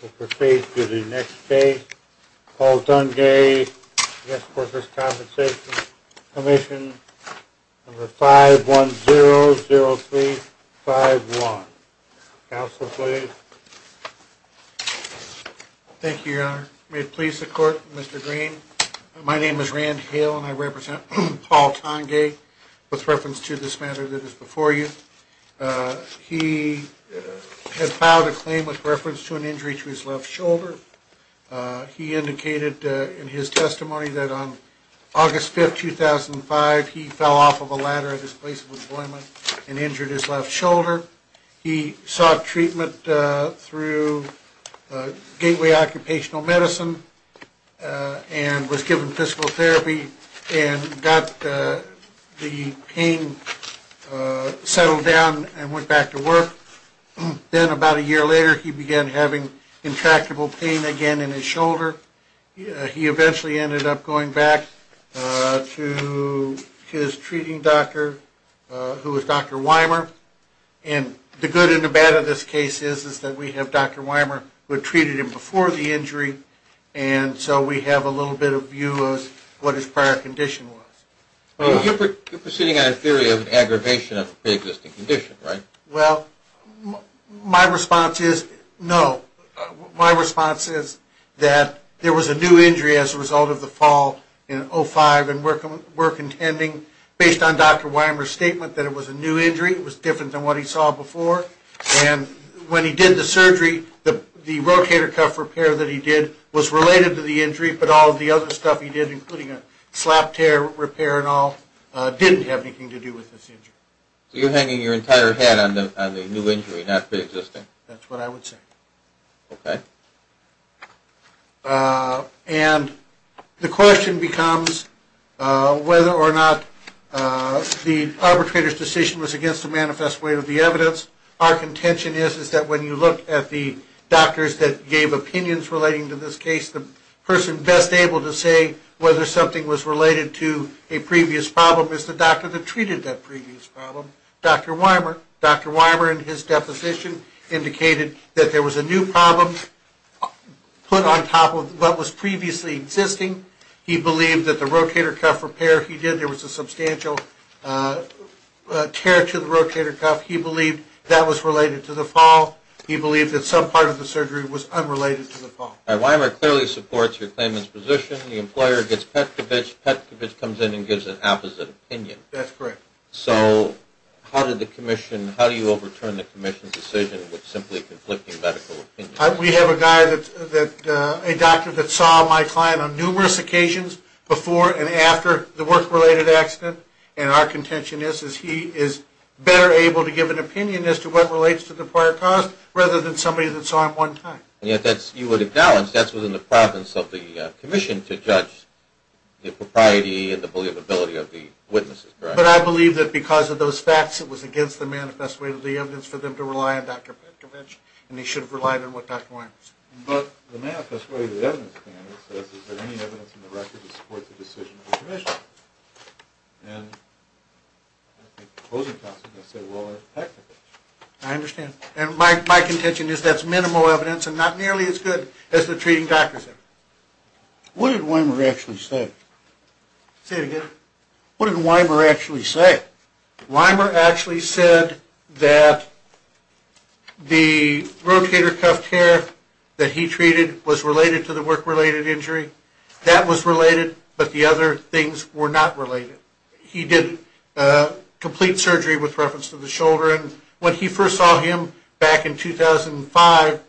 We'll proceed to the next case. Paul Tongay, Workers' Compensation Commission, number 5100351. Counselor, please. Thank you, Your Honor. May it please the Court, Mr. Green. My name is Rand Hale, and I represent Paul Tongay with reference to this matter that is before you. He had filed a claim with reference to an injury to his left shoulder. He indicated in his testimony that on August 5, 2005, he fell off of a ladder at his place of employment and injured his left shoulder. He sought treatment through Gateway Occupational Medicine and was given physical therapy and got the pain settled down and went back to work. Then about a year later, he began having intractable pain again in his shoulder. He eventually ended up going back to his treating doctor, who was Dr. Weimer. And the good and the bad of this case is that we have Dr. Weimer, who had treated him before the injury, and so we have a little bit of view of what his prior condition was. You're proceeding on a theory of an aggravation of a pre-existing condition, right? Well, my response is no. My response is that there was a new injury as a result of the fall in 2005, and we're contending, based on Dr. Weimer's statement, that it was a new injury. It was different than what he saw before, and when he did the surgery, the rotator cuff repair that he did was related to the injury, but all of the other stuff he did, including a slap tear repair and all, didn't have anything to do with this injury. So you're hanging your entire head on the new injury, not pre-existing? That's what I would say. Okay. And the question becomes whether or not the arbitrator's decision was against the manifest way of the evidence. Our contention is that when you look at the doctors that gave opinions relating to this case, the person best able to say whether something was related to a previous problem is the doctor that treated that previous problem, Dr. Weimer. Dr. Weimer, in his deposition, indicated that there was a new problem put on top of what was previously existing. He believed that the rotator cuff repair he did, there was a substantial tear to the rotator cuff. He believed that was related to the fall. He believed that some part of the surgery was unrelated to the fall. All right. Weimer clearly supports your claimant's position. The employer gets Petkovich. Petkovich comes in and gives an opposite opinion. That's correct. So how did the commission, how do you overturn the commission's decision with simply conflicting medical opinions? We have a guy that, a doctor that saw my client on numerous occasions before and after the work-related accident, and our contention is he is better able to give an opinion as to what relates to the prior cause rather than somebody that saw him one time. And yet that's, you would have balanced, that's within the province of the commission to judge the propriety and the believability of the witnesses, correct? But I believe that because of those facts, it was against the manifest way of the evidence for them to rely on Dr. Petkovich, and they should have relied on what Dr. Weimer said. But the manifest way of the evidence, the evidence says, is there any evidence in the record to support the decision of the commission? And the opposing counsel can say, well, there's Petkovich. I understand. And my contention is that's minimal evidence and not nearly as good as the treating doctor said. What did Weimer actually say? Say it again. What did Weimer actually say? Weimer actually said that the rotator cuff tear that he treated was related to the work-related injury. That was related, but the other things were not related. He did complete surgery with reference to the shoulder, and when he first saw him back in 2005,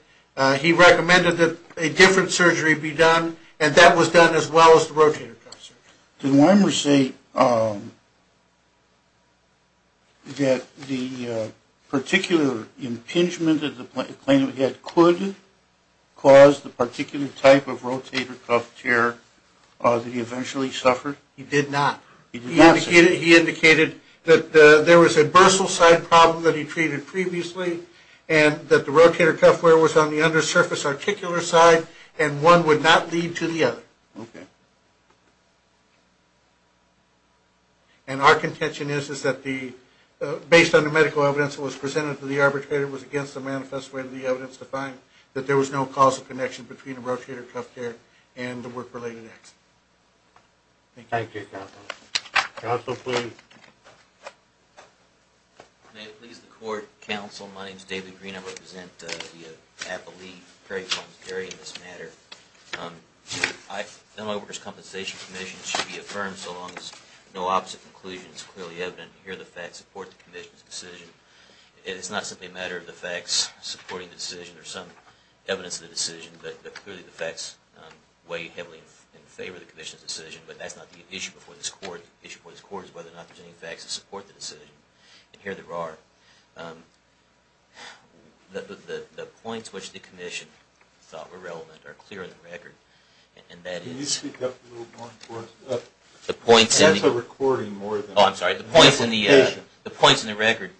he recommended that a different surgery be done, and that was done as well as the rotator cuff surgery. Did Weimer say that the particular impingement that the plaintiff had could cause the particular type of rotator cuff tear that he eventually suffered? He did not. He did not say that. He indicated that there was a bursal side problem that he treated previously, and that the rotator cuff wear was on the undersurface articular side, and one would not lead to the other. Okay. And our contention is that based on the medical evidence that was presented to the arbitrator, it was against the manifest way of the evidence to find that there was no causal connection between the rotator cuff tear and the work-related accident. Thank you, counsel. Counsel, please. May it please the court. Counsel, my name is David Green. I represent the Appalachee Prairie Farms area in this matter. My work as compensation commission should be affirmed so long as no opposite conclusion is clearly evident. Here are the facts that support the commission's decision. It is not simply a matter of the facts supporting the decision or some evidence of the decision, but clearly the facts weigh heavily in favor of the commission's decision, but that's not the issue before this court. The issue before this court is whether or not there are any facts that support the decision, and here there are. The points which the commission thought were relevant are clear in the record, and that is... Can you speak up a little more for us? The points in the record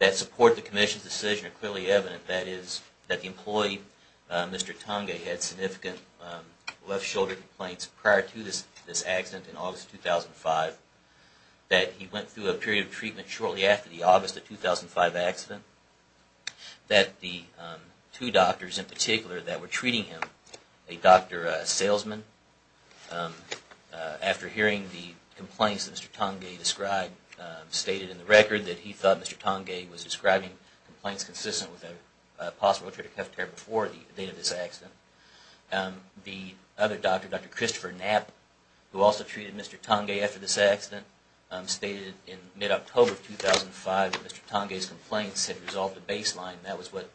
that support the commission's decision are clearly evident. That is that the employee, Mr. Tonga, had significant left shoulder complaints prior to this accident in August 2005, that he went through a period of treatment shortly after the August 2005 accident, that the two doctors in particular that were treating him, a doctor salesman, after hearing the complaints that Mr. Tonga described, stated in the record that he thought Mr. Tonga was describing complaints consistent with a possible tracheotomy before the date of this accident. The other doctor, Dr. Christopher Knapp, who also treated Mr. Tonga after this accident, stated in mid-October 2005 that Mr. Tonga's complaints had resolved the baseline, and that was what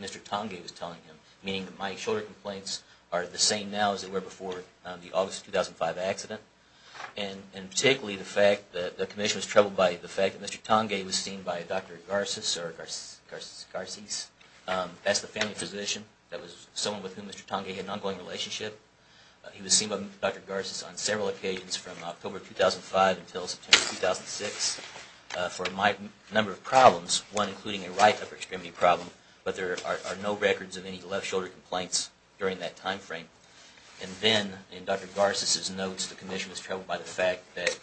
Mr. Tonga was telling him, meaning that my shoulder complaints are the same now as they were before the August 2005 accident, and particularly the fact that the commission was troubled by the fact that Mr. Tonga was seen by Dr. Garces, that's the family physician, that was someone with whom Mr. Tonga had an ongoing relationship, he was seen by Dr. Garces on several occasions from October 2005 until September 2006, for a number of problems, one including a right upper extremity problem, but there are no records of any left shoulder complaints during that time frame. And then, in Dr. Garces' notes, the commission was troubled by the fact that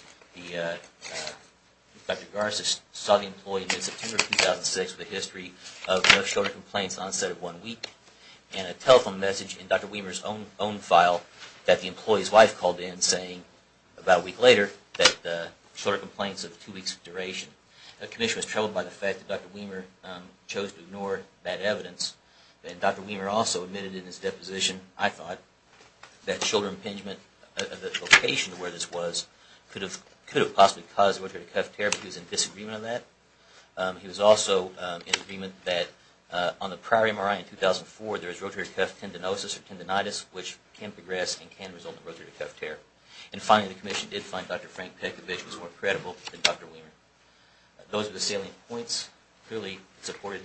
Dr. Garces saw the employee in mid-September 2006 with a history of no shoulder complaints at the onset of one week, and a telephone message in Dr. Weamer's own file that the employee's wife called in saying, about a week later, that shoulder complaints of two weeks duration. The commission was troubled by the fact that Dr. Weamer chose to ignore that evidence, and Dr. Weamer also admitted in his deposition, I thought, that shoulder impingement, the location of where this was, could have possibly caused orthopedic cuff tear, but he was in disagreement on that. He was also in agreement that on the prior MRI in 2004, there was rotator cuff tendinosis or tendinitis, which can progress and can result in rotator cuff tear. And finally, the commission did find Dr. Frank Pekovic was more credible than Dr. Weamer. Those are the salient points. Clearly, it supported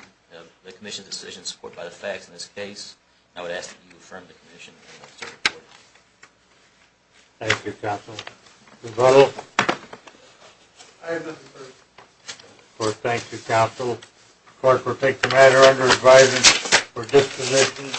the commission's decision, supported by the facts in this case, and I would ask that you affirm the commission's report. Thank you, Counsel. Mr. Butler? Aye, Mr. Chairman. Of course, thank you, Counsel. Of course, we'll take the matter under advisement for disposition.